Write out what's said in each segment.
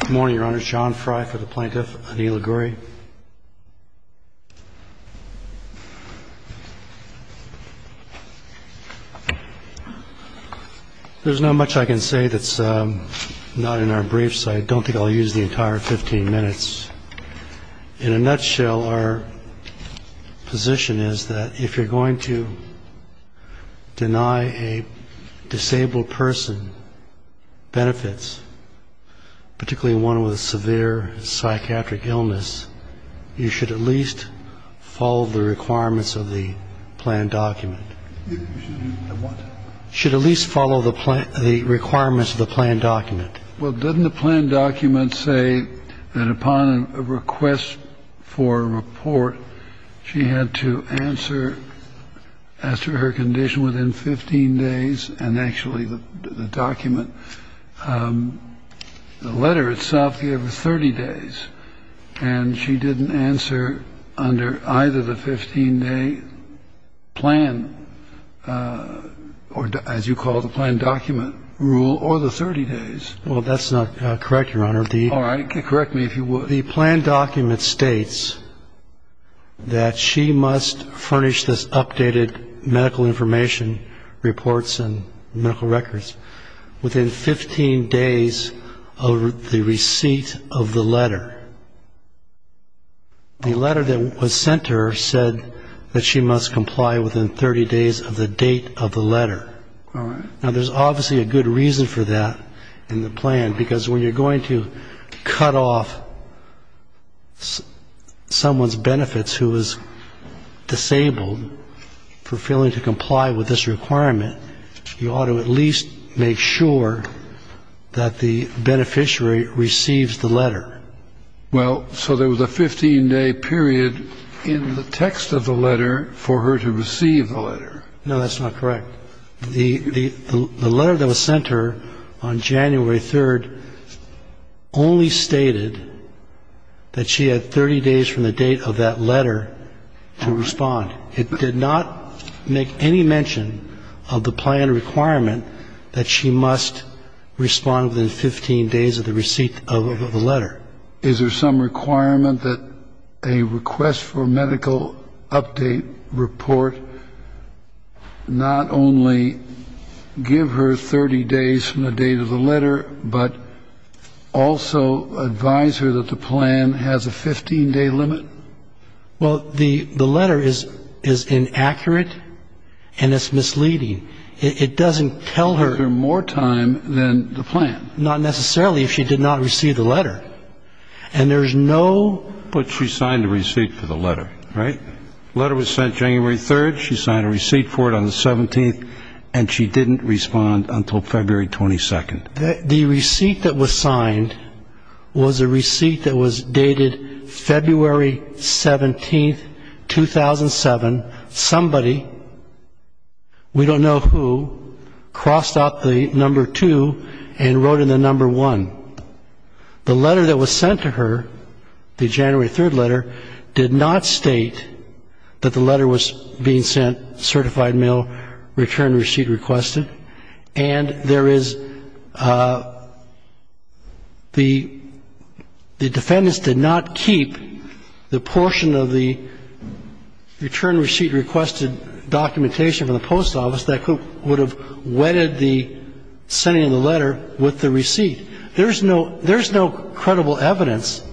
Good morning, Your Honor. John Frye for the Plaintiff. Aneela Ghouri. There's not much I can say that's not in our briefs, so I don't think I'll use the entire 15 minutes. In a nutshell, our position is that if you're going to deny a disabled person benefits, particularly one with a severe psychiatric illness, you should at least follow the requirements of the plan document. You should at least follow the requirements of the plan document. Well, didn't the plan document say that upon a request for a report, she had to answer as to her condition within 15 days? And actually, the document, the letter itself gave her 30 days, and she didn't answer under either the 15-day plan, or as you call it, the plan document rule, or the 30 days. Well, that's not correct, Your Honor. All right, correct me if you would. The plan document states that she must furnish this updated medical information reports and medical records within 15 days of the receipt of the letter. The letter that was sent to her said that she must comply within 30 days of the date of the letter. All right. Now, there's obviously a good reason for that in the plan, because when you're going to cut off someone's benefits who is disabled for failing to comply with this requirement, you ought to at least make sure that the beneficiary receives the letter. Well, so there was a 15-day period in the text of the letter for her to receive the letter. No, that's not correct. The letter that was sent to her on January 3rd only stated that she had 30 days from the date of that letter to respond. It did not make any mention of the plan requirement that she must respond within 15 days of the receipt of the letter. Is there some requirement that a request for medical update report not only give her 30 days from the date of the letter, but also advise her that the plan has a 15-day limit? Well, the letter is inaccurate and it's misleading. It doesn't tell her. Give her more time than the plan. Not necessarily if she did not receive the letter. And there's no. But she signed a receipt for the letter, right? The letter was sent January 3rd. She signed a receipt for it on the 17th, and she didn't respond until February 22nd. The receipt that was signed was a receipt that was dated February 17th, 2007. Somebody, we don't know who, crossed out the number 2 and wrote in the number 1. The letter that was sent to her, the January 3rd letter, did not state that the letter was being sent certified mail return receipt requested. And there is the defendant's did not keep the portion of the return receipt requested documentation from the post office that would have wedded the sending of the letter with the receipt. There's no credible evidence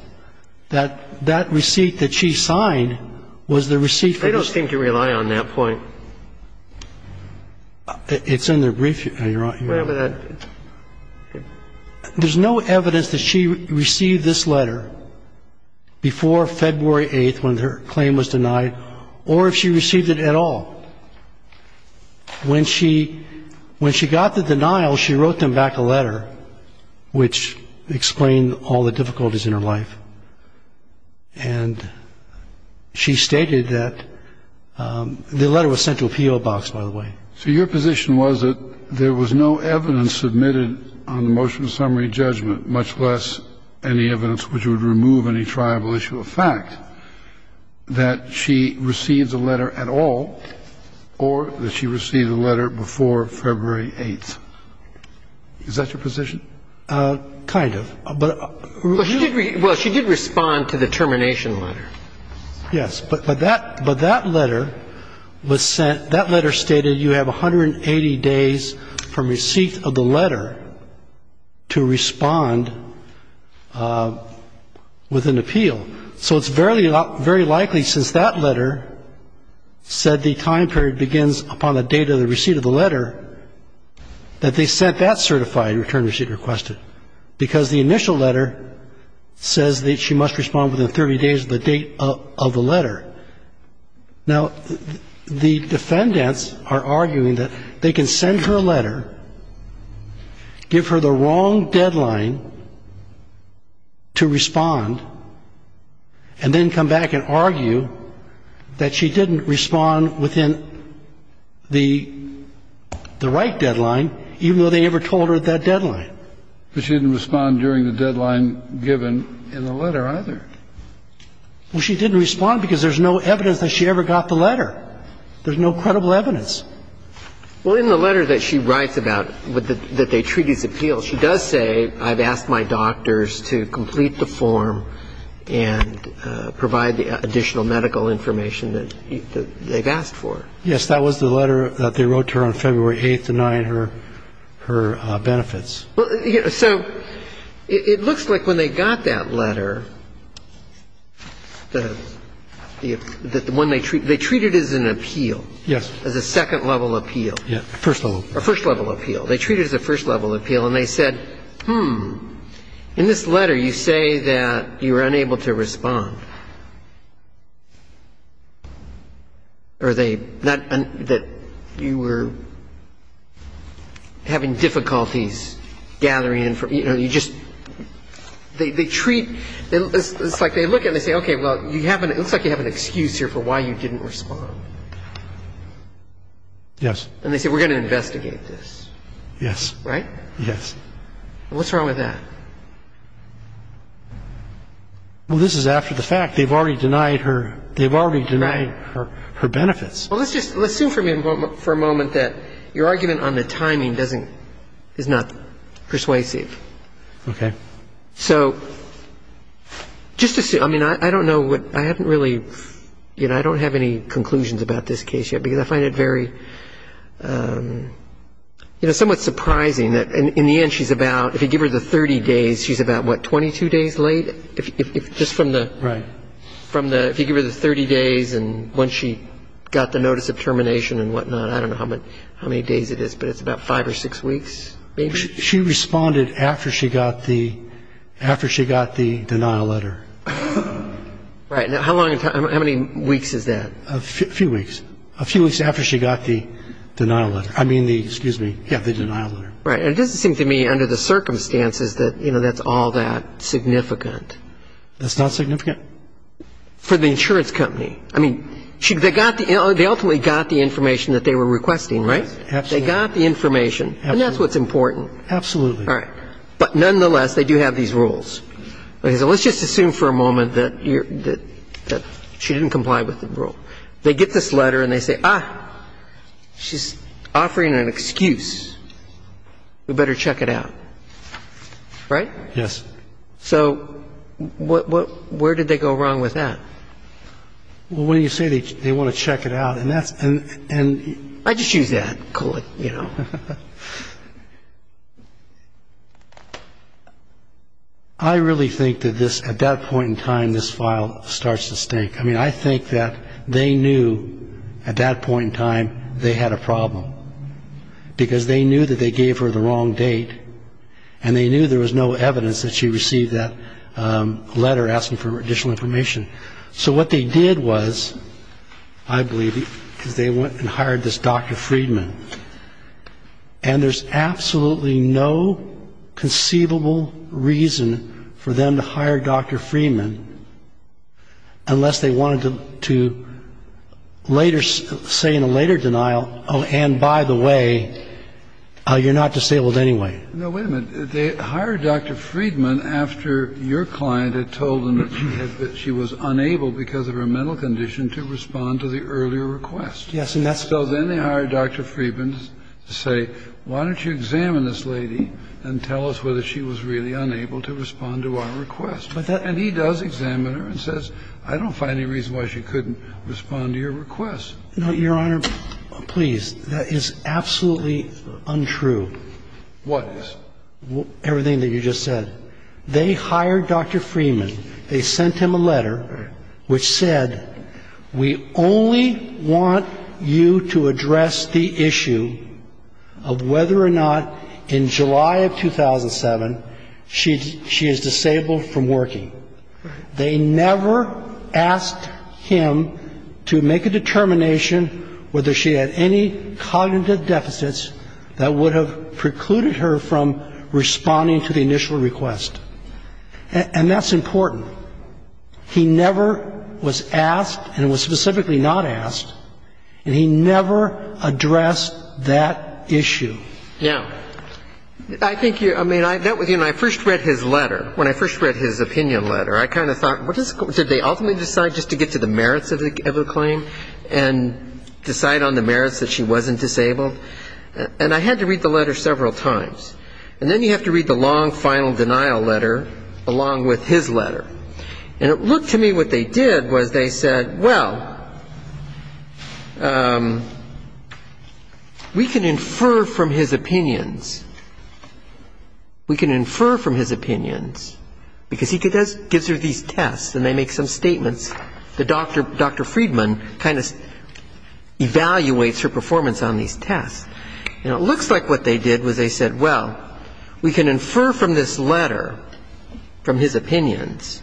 that that receipt that she signed was the receipt for the letter. They don't seem to rely on that point. It's in the brief. There's no evidence that she received this letter before February 8th when her claim was denied, or if she received it at all. When she got the denial, she wrote them back a letter, which explained all the difficulties in her life. And she stated that the letter was sent to a PO box, by the way. So your position was that there was no evidence submitted on the motion of summary judgment, much less any evidence which would remove any triable issue of fact, that she receives a letter at all, or that she received a letter before February 8th. Is that your position? Kind of. Well, she did respond to the termination letter. Yes. But that letter was sent. That letter stated you have 180 days from receipt of the letter to respond with an appeal. So it's very likely, since that letter said the time period begins upon the date of the receipt of the letter, that they sent that certified return receipt requested, because the initial letter says that she must respond within 30 days of the date of the letter. Now, the defendants are arguing that they can send her a letter, give her the wrong deadline to respond, and then come back and argue that she didn't respond within the right deadline, even though they never told her that deadline. But she didn't respond during the deadline given in the letter, either. Well, she didn't respond because there's no evidence that she ever got the letter. There's no credible evidence. Well, in the letter that she writes about, that they treat it as an appeal, she does say, I've asked my doctors to complete the form and provide the additional medical information that they've asked for. Yes, that was the letter that they wrote to her on February 8th denying her benefits. Well, so it looks like when they got that letter, the one they treat, they treat it as an appeal. Yes. As a second-level appeal. Yes, a first-level appeal. A first-level appeal. They treat it as a first-level appeal, and they said, hmm, in this letter you say that you were unable to respond. Or they, that you were having difficulties gathering information. You know, you just, they treat, it's like they look at it and they say, okay, well, it looks like you have an excuse here for why you didn't respond. Yes. And they say, we're going to investigate this. Yes. Right? Yes. What's wrong with that? Well, this is after the fact. They've already denied her, they've already denied her benefits. Well, let's just, let's assume for a moment that your argument on the timing doesn't, is not persuasive. Okay. So just assume, I mean, I don't know what, I haven't really, you know, I don't have any conclusions about this case yet because I find it very, you know, It's somewhat surprising that in the end she's about, if you give her the 30 days, she's about, what, 22 days late? Just from the, from the, if you give her the 30 days and once she got the notice of termination and whatnot, I don't know how many days it is, but it's about five or six weeks maybe? She responded after she got the, after she got the denial letter. Right. Now, how long, how many weeks is that? A few weeks. A few weeks after she got the denial letter. I mean the, excuse me. Yeah, the denial letter. Right. And it doesn't seem to me under the circumstances that, you know, that's all that significant. That's not significant? For the insurance company. I mean, they got the, they ultimately got the information that they were requesting, right? Absolutely. They got the information. Absolutely. And that's what's important. Absolutely. All right. But nonetheless, they do have these rules. Okay. So let's just assume for a moment that you're, that she didn't comply with the rule. Well, they get this letter and they say, ah, she's offering an excuse. We better check it out. Right? Yes. So what, what, where did they go wrong with that? Well, when you say they want to check it out, and that's, and, and I just use that, call it, you know. I really think that this, at that point in time, this file starts to stink. I mean, I think that they knew at that point in time they had a problem, because they knew that they gave her the wrong date, and they knew there was no evidence that she received that letter asking for additional information. So what they did was, I believe, is they went and hired this Dr. Friedman. And there's absolutely no conceivable reason for them to hire Dr. Friedman, unless they wanted to later, say in a later denial, oh, and by the way, you're not disabled anyway. No, wait a minute. They hired Dr. Friedman after your client had told them that she was unable, because of her mental condition, to respond to the earlier request. Yes, and that's the problem. So then they hired Dr. Friedman to say, why don't you examine this lady and tell us whether she was really unable to respond to our request. And he does examine her and says, I don't find any reason why she couldn't respond to your request. No, Your Honor, please. That is absolutely untrue. What is? Everything that you just said. They hired Dr. Friedman. They sent him a letter which said, we only want you to address the issue of whether or not in July of 2007 she is disabled from working. They never asked him to make a determination whether she had any cognitive deficits that would have precluded her from responding to the initial request. And that's important. He never was asked and was specifically not asked, and he never addressed that issue. Yeah. I think you're, I mean, that was, you know, I first read his letter, when I first read his opinion letter, I kind of thought, did they ultimately decide just to get to the merits of the claim and decide on the merits that she wasn't disabled? And I had to read the letter several times. And then you have to read the long final denial letter along with his letter. And it looked to me what they did was they said, well, we can infer from his opinions. We can infer from his opinions because he gives her these tests and they make some statements that Dr. Friedman kind of evaluates her performance on these tests. And it looks like what they did was they said, well, we can infer from this letter, from his opinions,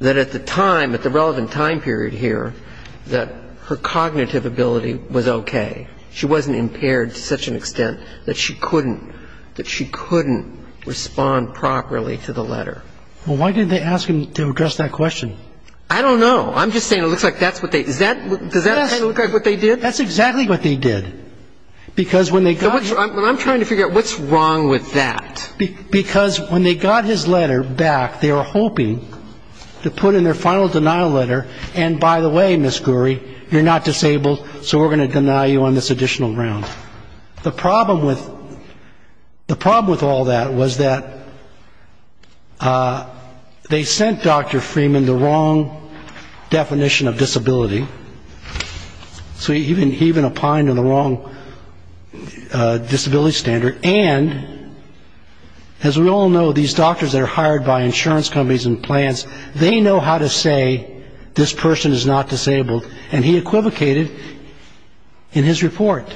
that at the time, at the relevant time period here, that her cognitive ability was okay. She wasn't impaired to such an extent that she couldn't, that she couldn't respond properly to the letter. Well, why didn't they ask him to address that question? I don't know. I'm just saying it looks like that's what they, does that look like what they did? That's exactly what they did. Because when they got... I'm trying to figure out what's wrong with that. Because when they got his letter back, they were hoping to put in their final denial letter, and by the way, Ms. Gouri, you're not disabled, so we're going to deny you on this additional round. The problem with all that was that they sent Dr. Friedman the wrong definition of disability. So he even opined on the wrong disability standard. And as we all know, these doctors that are hired by insurance companies and plans, they know how to say this person is not disabled, and he equivocated in his report.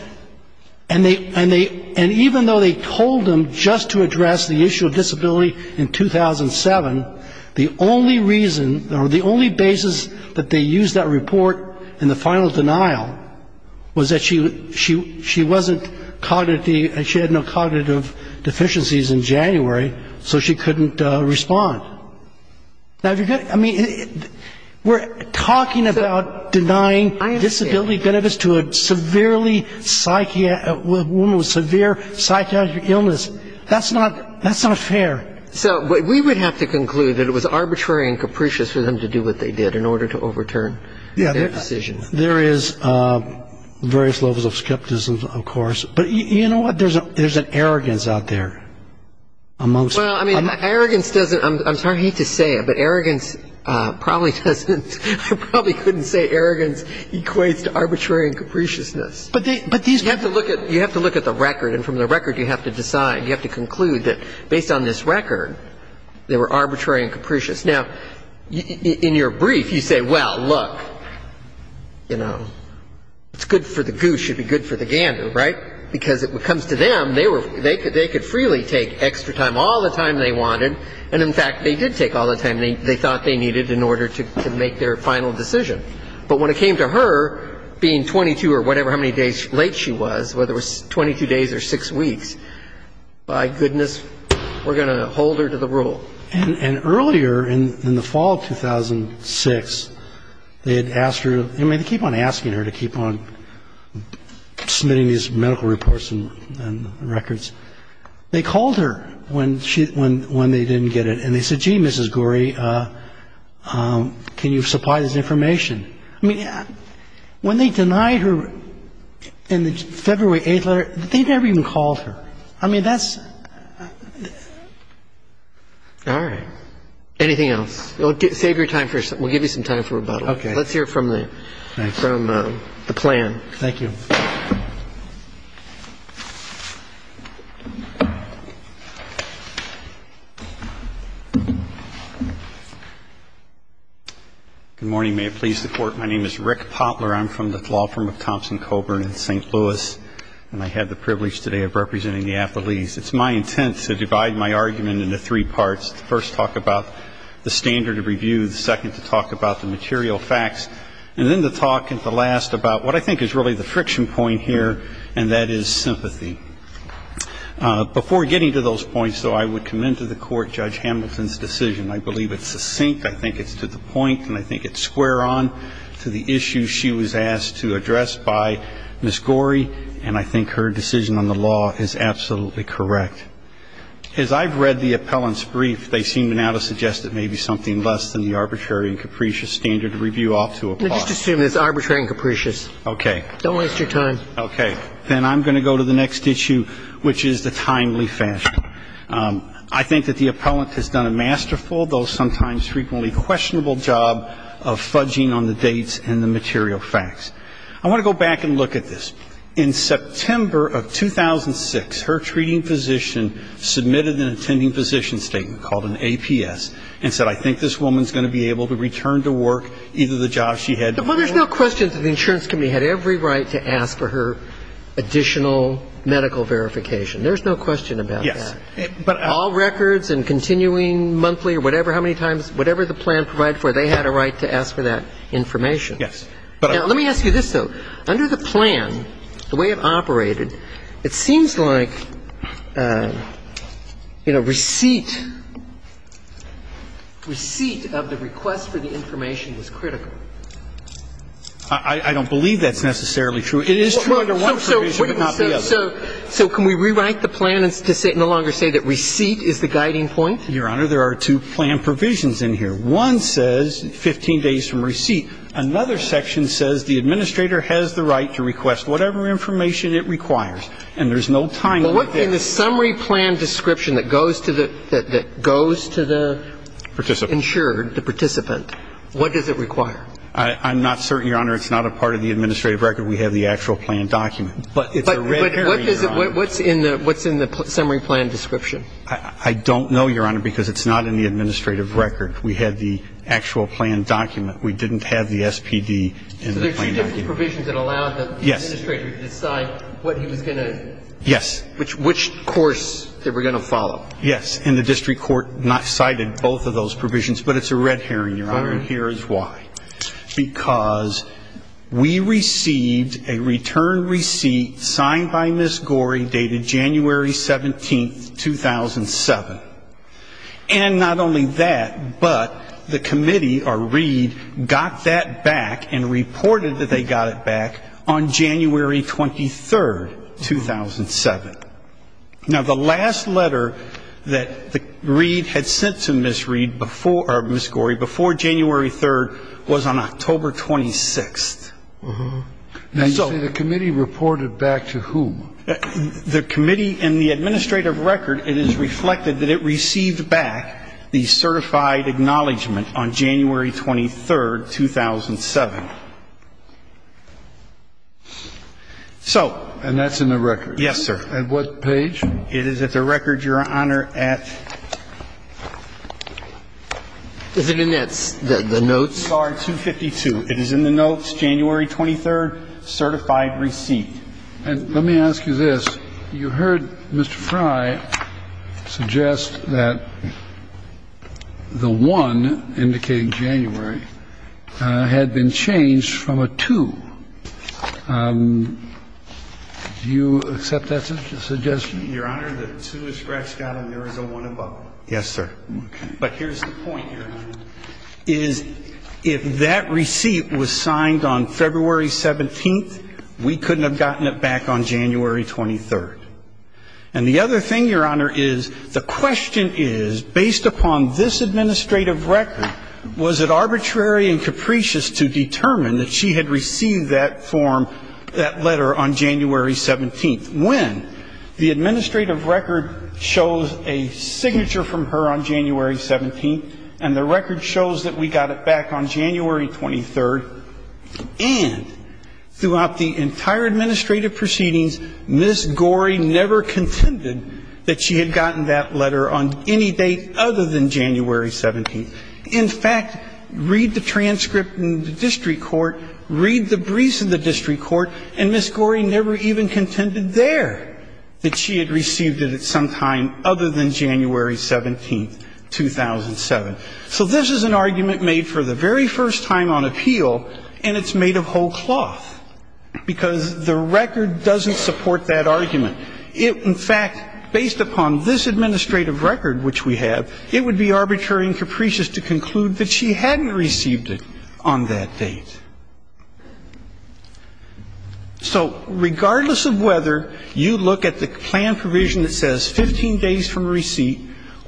And even though they told him just to address the issue of disability in 2007, the only reason or the only basis that they used that report in the final denial was that she wasn't cognitive. She had no cognitive deficiencies in January, so she couldn't respond. Now, if you're going to, I mean, we're talking about denying disability benefits to a severely, a woman with severe psychiatric illness. That's not fair. So we would have to conclude that it was arbitrary and capricious for them to do what they did in order to overturn their decisions. There is various levels of skepticism, of course. But you know what? There's an arrogance out there. Well, I mean, arrogance doesn't, I'm sorry to say it, but arrogance probably doesn't, I probably couldn't say arrogance equates to arbitrary and capriciousness. But these. You have to look at the record, and from the record you have to decide. You have to conclude that based on this record, they were arbitrary and capricious. Now, in your brief, you say, well, look, you know, it's good for the goose, should be good for the gandu, right? Because it comes to them, they could freely take extra time, all the time they wanted. And, in fact, they did take all the time they thought they needed in order to make their final decision. But when it came to her being 22 or whatever, how many days late she was, whether it was 22 days or six weeks, by goodness, we're going to hold her to the rule. And earlier in the fall of 2006, they had asked her, I mean, they keep on asking her to keep on submitting these medical reports and records. They called her when she, when they didn't get it. And they said, gee, Mrs. Gorey, can you supply this information? I mean, when they denied her in the February 8th letter, they never even called her. I mean, that's. All right. Anything else? Save your time. We'll give you some time for rebuttal. OK. Let's hear from the plan. Thank you. Good morning. May it please the Court. My name is Rick Potler. I'm from the law firm of Thompson-Coburn in St. Louis. And I had the privilege today of representing the appellees. It's my intent to divide my argument into three parts, to first talk about the standard of review, the second to talk about the material facts, and then to talk at the last about what I think is really the friction point here, and that is sympathy. Before getting to those points, though, I would commend to the Court Judge Hamilton's decision. I believe it's succinct. I think it's to the point. And I think it's square on to the issue she was asked to address by Ms. Gorey. And I think her decision on the law is absolutely correct. As I've read the appellant's brief, they seem now to suggest it may be something less than the arbitrary and capricious standard of review ought to apply. Just assume it's arbitrary and capricious. OK. Don't waste your time. OK. Then I'm going to go to the next issue, which is the timely fashion. I think that the appellant has done a masterful, though sometimes frequently questionable, job of fudging on the dates and the material facts. I want to go back and look at this. In September of 2006, her treating physician submitted an attending physician statement called an APS and said, I think this woman is going to be able to return to work, either the job she had before or after. And in order for her to do that, she had to have the right to asked for additional medical verification. There's no question about that. Yes. All records and continuing monthly or whatever, how many times, whatever the plan provided for her, they had a right to ask for that information. Yes. Let me ask you this, though. Under the plan, the way it operated, it seems like, you know, receipt, receipt of the request for the information was critical. I don't believe that's necessarily true. It is true under one provision, but not the other. So can we rewrite the plan to no longer say that receipt is the guiding point? Your Honor, there are two plan provisions in here. One says 15 days from receipt. Another section says the administrator has the right to request whatever information it requires, and there's no time limit there. So in the summary plan description that goes to the insured, the participant, what does it require? I'm not certain, Your Honor. It's not a part of the administrative record. We have the actual plan document. But it's a red herring, Your Honor. But what's in the summary plan description? I don't know, Your Honor, because it's not in the administrative record. We have the actual plan document. We didn't have the SPD in the plan document. So there are two different provisions that allowed the administrator to decide what he was going to do. Yes. Which course they were going to follow. Yes. And the district court cited both of those provisions, but it's a red herring, Your Honor, and here is why. Because we received a return receipt signed by Ms. Gorey dated January 17, 2007. And not only that, but the committee, or Reed, got that back and reported that they got it back on January 23, 2007. Now, the last letter that Reed had sent to Ms. Gorey before January 3rd was on October 26th. Uh-huh. Now, you say the committee reported back to whom? The committee in the administrative record, it is reflected that it received back the So. And that's in the record. Yes, sir. At what page? It is at the record, Your Honor, at the notes. 252. It is in the notes, January 23rd, certified receipt. And let me ask you this. You heard Mr. Frey suggest that the 1, indicating January, had been changed from a 2. Do you accept that suggestion? Your Honor, the 2 is Gratscot and there is a 1 above it. Yes, sir. But here's the point, Your Honor, is if that receipt was signed on February 17th, we couldn't have gotten it back on January 23rd. And the other thing, Your Honor, is the question is, based upon this administrative record, was it arbitrary and capricious to determine that she had received that form, that letter, on January 17th, when the administrative record shows a signature from her on January 17th, and the record shows that we got it back on January 23rd, and throughout the entire administrative proceedings, Ms. Gorey never contended that she had gotten that letter on any date other than January 17th. In fact, read the transcript in the district court, read the briefs in the district court, and Ms. Gorey never even contended there that she had received it at some time other than January 17th, 2007. So this is an argument made for the very first time on appeal, and it's made of whole cloth, because the record doesn't support that argument. In fact, based upon this administrative record, which we have, it would be arbitrary and capricious to conclude that she hadn't received it on that date. So regardless of whether you look at the plan provision that says 15 days from receipt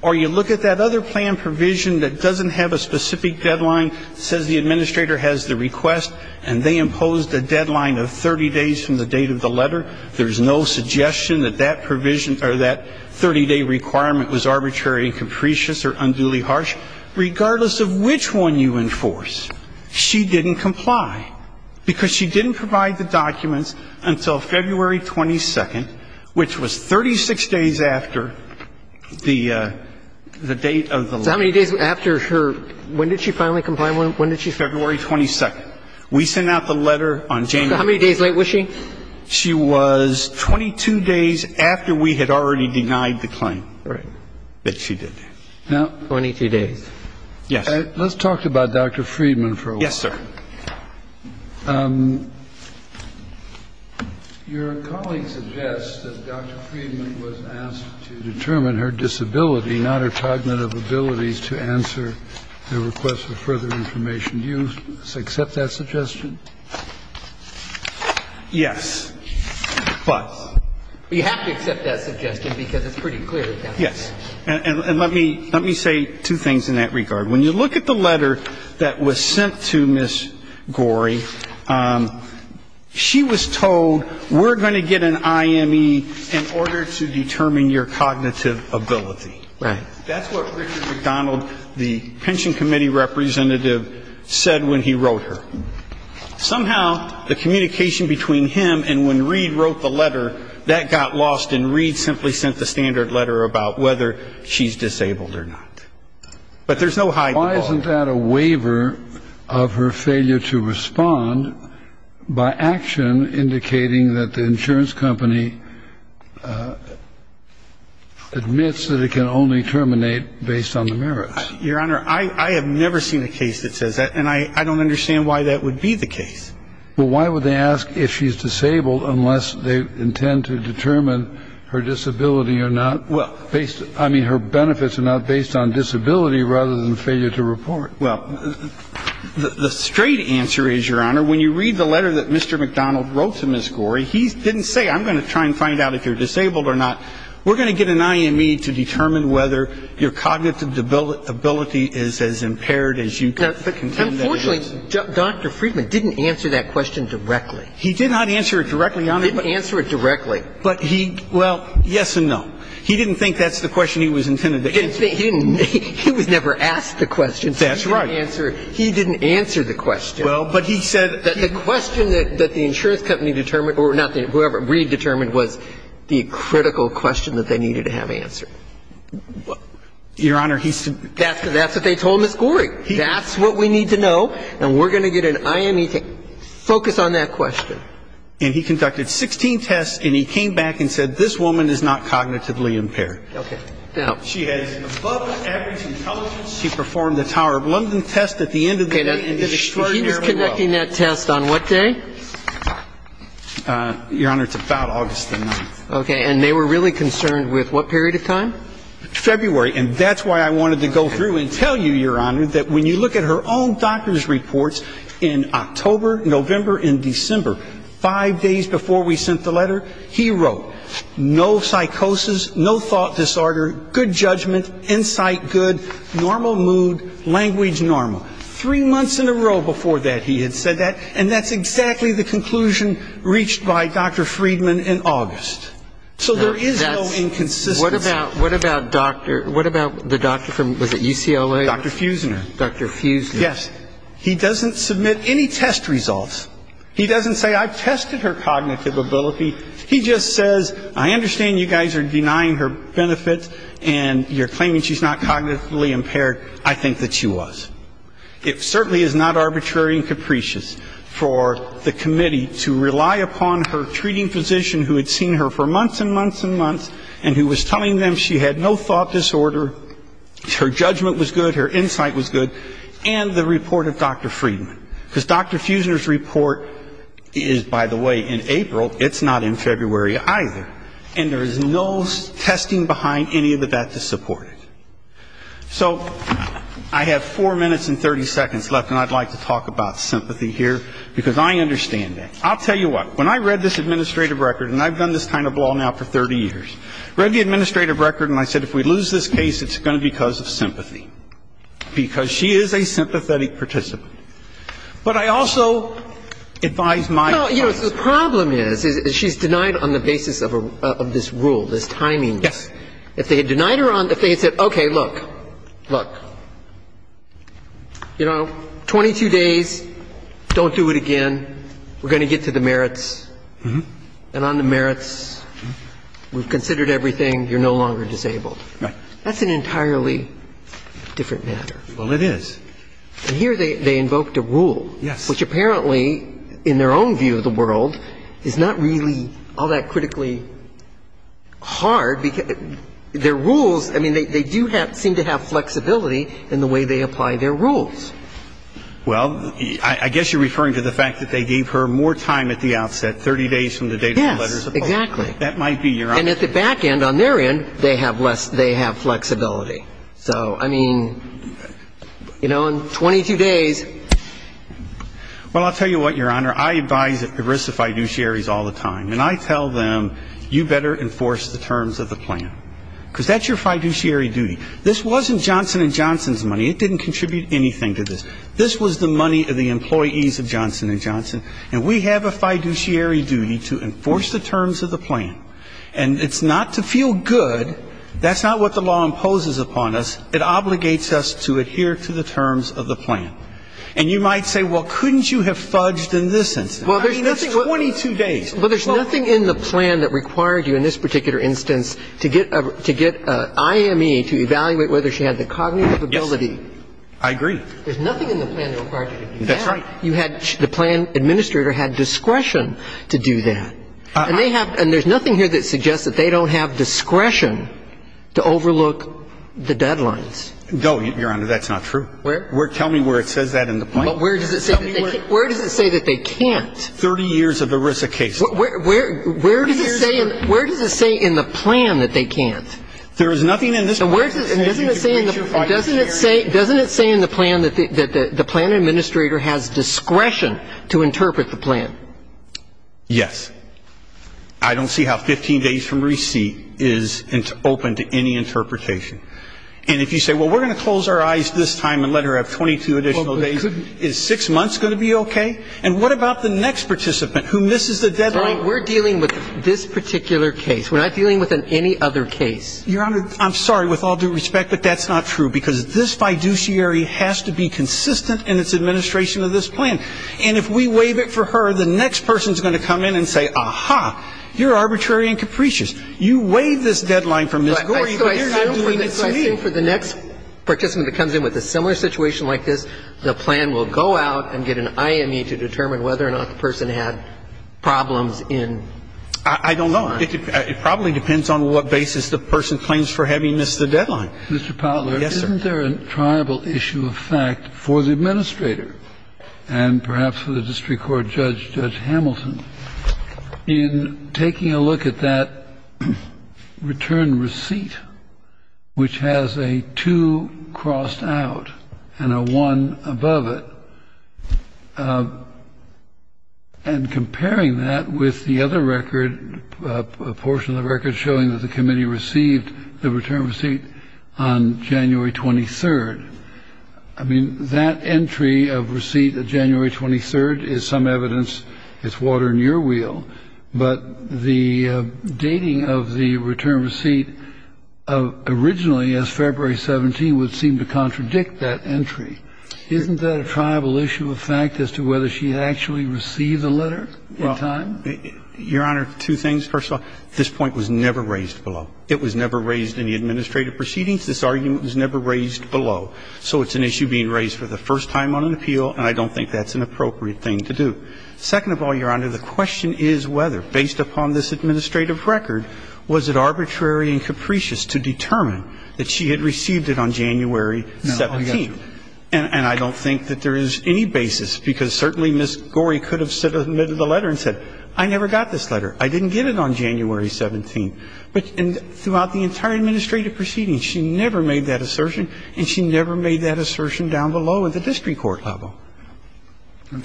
or you look at that other plan provision that doesn't have a specific deadline, says the administrator has the request and they imposed a deadline of 30 days from the date of the letter, there's no suggestion that that provision or that 30-day requirement was arbitrary and capricious or unduly harsh. Regardless of which one you enforce, she didn't comply, because she didn't provide the documents until February 22nd, which was 36 days after the date of the letter. So how many days after her – when did she finally comply? When did she – February 22nd. We sent out the letter on January 22nd. So how many days late was she? She was 22 days after we had already denied the claim. Right. That she did. Now – 22 days. Yes. Let's talk about Dr. Friedman for a while. Yes, sir. Your colleague suggests that Dr. Friedman was asked to determine her disability, not her cognitive abilities, to answer the request for further information. Do you accept that suggestion? Yes. But – You have to accept that suggestion because it's pretty clear. Yes. And let me – let me say two things in that regard. When you look at the letter that was sent to Ms. Gorey, she was told we're going to get an IME in order to determine your cognitive ability. Right. That's what Richard McDonald, the pension committee representative, said when he wrote her. Somehow, the communication between him and when Reed wrote the letter, that got lost, and Reed simply sent the standard letter about whether she's disabled or not. But there's no hide. Why isn't that a waiver of her failure to respond by action, indicating that the insurance company admits that it can only terminate based on the merits? Your Honor, I have never seen a case that says that, and I don't understand why that would be the case. Well, why would they ask if she's disabled unless they intend to determine her disability or not? Well, based – I mean, her benefits are not based on disability rather than failure to report. Well, the straight answer is, Your Honor, when you read the letter that Mr. McDonald wrote to Ms. Gorey, he didn't say I'm going to try and find out if you're disabled or not. We're going to get an IME to determine whether your cognitive ability is as impaired as you contend that it is. Unfortunately, Dr. Friedman didn't answer that question directly. He did not answer it directly, Your Honor. He didn't answer it directly. But he – well, yes and no. He didn't think that's the question he was intended to answer. He didn't – he was never asked the question. That's right. He didn't answer it. He didn't answer the question. Well, but he said – The question that the insurance company determined – or not the – whoever, Reed determined was the critical question that they needed to have answered. Your Honor, he – That's what they told Ms. Gorey. That's what we need to know, and we're going to get an IME to focus on that question. And he conducted 16 tests, and he came back and said, this woman is not cognitively impaired. Okay. She has above-average intelligence. She performed the Tower of London test at the end of the day and did extraordinarily well. Okay. He was conducting that test on what day? Your Honor, it's about August the 9th. Okay. And they were really concerned with what period of time? February. And that's why I wanted to go through and tell you, Your Honor, that when you look at her own doctor's reports in October, November, and December, five days before we sent the letter, he wrote, no psychosis, no thought disorder, good judgment, insight good, normal mood, language normal. Three months in a row before that he had said that, and that's exactly the conclusion reached by Dr. Friedman in August. So there is no inconsistency. What about the doctor from – was it UCLA? Dr. Fusiner. Dr. Fusiner. Yes. He doesn't submit any test results. He doesn't say I've tested her cognitive ability. He just says, I understand you guys are denying her benefits and you're claiming she's not cognitively impaired. I think that she was. It certainly is not arbitrary and capricious for the committee to rely upon her treating physician who had seen her for months and months and months and who was telling them she had no thought disorder, her judgment was good, her insight was good, and the report of Dr. Friedman. Because Dr. Fusiner's report is, by the way, in April. It's not in February either. And there is no testing behind any of that to support it. So I have four minutes and 30 seconds left, and I'd like to talk about sympathy here, because I understand that. I'll tell you what. When I read this administrative record, and I've done this kind of law now for 30 years, read the administrative record, and I said if we lose this case, it's going to be because of sympathy. Because she is a sympathetic participant. But I also advise my clients. Well, you know, the problem is, is she's denied on the basis of this rule, this timing. Yes. If they had denied her on the basis of, okay, look, look, you know, 22 days, don't do it again. We're going to get to the merits. And on the merits, we've considered everything, you're no longer disabled. Right. That's an entirely different matter. Well, it is. And here they invoked a rule. Yes. Which apparently, in their own view of the world, is not really all that critically hard, because their rules, I mean, they do seem to have flexibility in the way they apply their rules. Well, I guess you're referring to the fact that they gave her more time at the outset, 30 days from the date of the letter. Yes, exactly. That might be your argument. And at the back end, on their end, they have less, they have flexibility. So, I mean, you know, in 22 days. Well, I'll tell you what, Your Honor, I advise ERISA fiduciaries all the time. And I tell them, you better enforce the terms of the plan, because that's your fiduciary duty. This wasn't Johnson & Johnson's money. It didn't contribute anything to this. This was the money of the employees of Johnson & Johnson. And we have a fiduciary duty to enforce the terms of the plan. And it's not to feel good. That's not what the law imposes upon us. It obligates us to adhere to the terms of the plan. And you might say, well, couldn't you have fudged in this instance? I mean, that's 22 days. Well, there's nothing in the plan that required you in this particular instance to get IME to evaluate whether she had the cognitive ability to do that. I agree. There's nothing in the plan that required you to do that. That's right. You had the plan administrator had discretion to do that. And they have – and there's nothing here that suggests that they don't have discretion to overlook the deadlines. No, Your Honor, that's not true. Where? Tell me where it says that in the plan. Well, where does it say that they can't? 30 years of ERISA cases. Where does it say in the plan that they can't? There is nothing in this plan. Doesn't it say in the plan that the plan administrator has discretion to interpret the plan? Yes. I don't see how 15 days from receipt is open to any interpretation. And if you say, well, we're going to close our eyes this time and let her have 22 additional days, is six months going to be okay? And what about the next participant who misses the deadline? We're dealing with this particular case. We're not dealing with any other case. Your Honor, I'm sorry, with all due respect, but that's not true because this fiduciary has to be consistent in its administration of this plan. And if we waive it for her, the next person is going to come in and say, aha, you're arbitrary and capricious. You waived this deadline for Ms. Gorey, but you're not doing it to me. So I assume for the next participant that comes in with a similar situation like this, the plan will go out and get an IME to determine whether or not the person had problems in time. I don't know. It probably depends on what basis the person claims for having missed the deadline. Mr. Potler. Yes, sir. Isn't there a tribal issue of fact for the administrator and perhaps for the district court judge, Judge Hamilton, in taking a look at that return receipt, which has a 2 crossed out and a 1 above it, and comparing that with the other record, a portion of the record showing that the committee received the return receipt on January 23rd? I mean, that entry of receipt of January 23rd is some evidence. It's water in your wheel. But the dating of the return receipt originally as February 17 would seem to contradict that entry. Isn't that a tribal issue of fact as to whether she actually received the letter in time? Well, Your Honor, two things. First of all, this point was never raised below. It was never raised in the administrative proceedings. This argument was never raised below. So it's an issue being raised for the first time on an appeal, and I don't think that's an appropriate thing to do. Second of all, Your Honor, the question is whether, based upon this administrative record, was it arbitrary and capricious to determine that she had received it on January 17th? And I don't think that there is any basis, because certainly Ms. Gorey could have submitted the letter and said, I never got this letter. I didn't get it on January 17th. And throughout the entire administrative proceedings, she never made that assertion, and she never made that assertion down below in the district court level.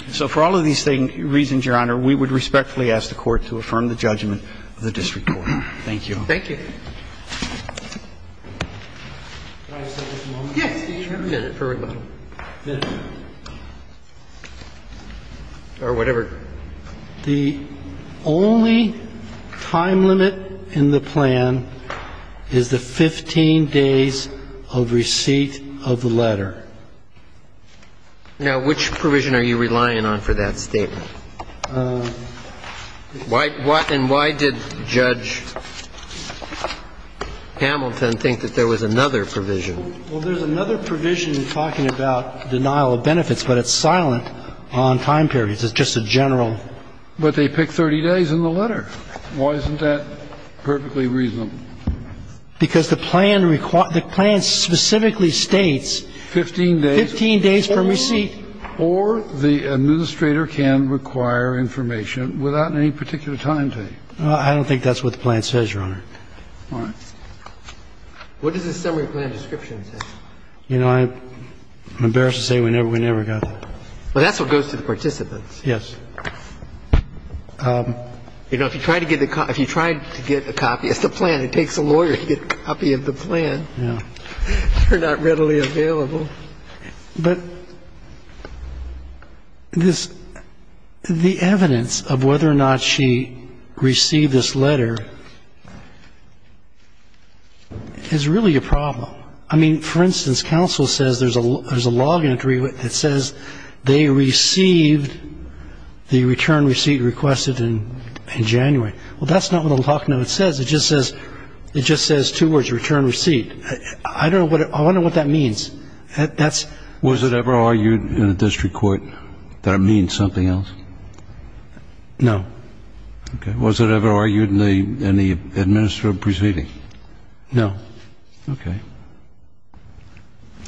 So for all of these reasons, Your Honor, we would respectfully ask the Court to affirm the judgment of the district court. Thank you. Thank you. The only time limit in the plan is the 15 days of receipt of the letter. Now, which provision are you relying on for that statement? And why did Judge Gorey decide that she had received the letter on January 17th? Hamilton thinks that there was another provision. Well, there's another provision talking about denial of benefits, but it's silent on time periods. It's just a general. But they pick 30 days in the letter. Why isn't that perfectly reasonable? Because the plan specifically states 15 days from receipt. Or the administrator can require information without any particular time date. I don't think that's what the plan says, Your Honor. All right. What does the summary plan description say? You know, I'm embarrassed to say we never got that. But that's what goes to the participants. Yes. You know, if you try to get a copy, it's the plan. It takes a lawyer to get a copy of the plan. Yeah. They're not readily available. But the evidence of whether or not she received this letter is really a problem. I mean, for instance, counsel says there's a log entry that says they received the return receipt requested in January. Well, that's not what the lock note says. It just says two words, return receipt. I wonder what that means. Was it ever argued in a district court that it means something else? No. Okay. Was it ever argued in the administrative proceeding? No. Okay.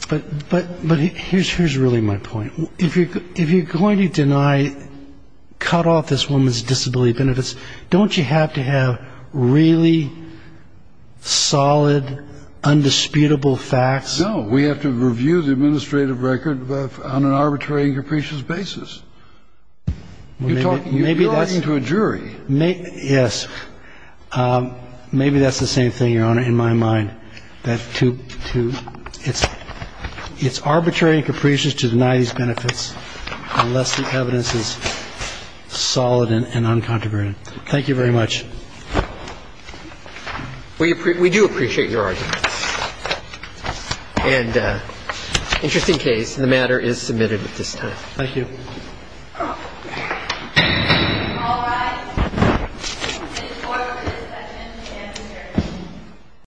But here's really my point. If you're going to deny, cut off this woman's disability benefits, don't you have to have really solid, undisputable facts? No. We have to review the administrative record on an arbitrary and capricious basis. You're talking to a jury. Maybe that's the same thing, Your Honor, in my mind. It's arbitrary and capricious to deny these benefits unless the evidence is solid and uncontroverted. Thank you very much. We do appreciate your argument. And interesting case, and the matter is submitted at this time. Thank you.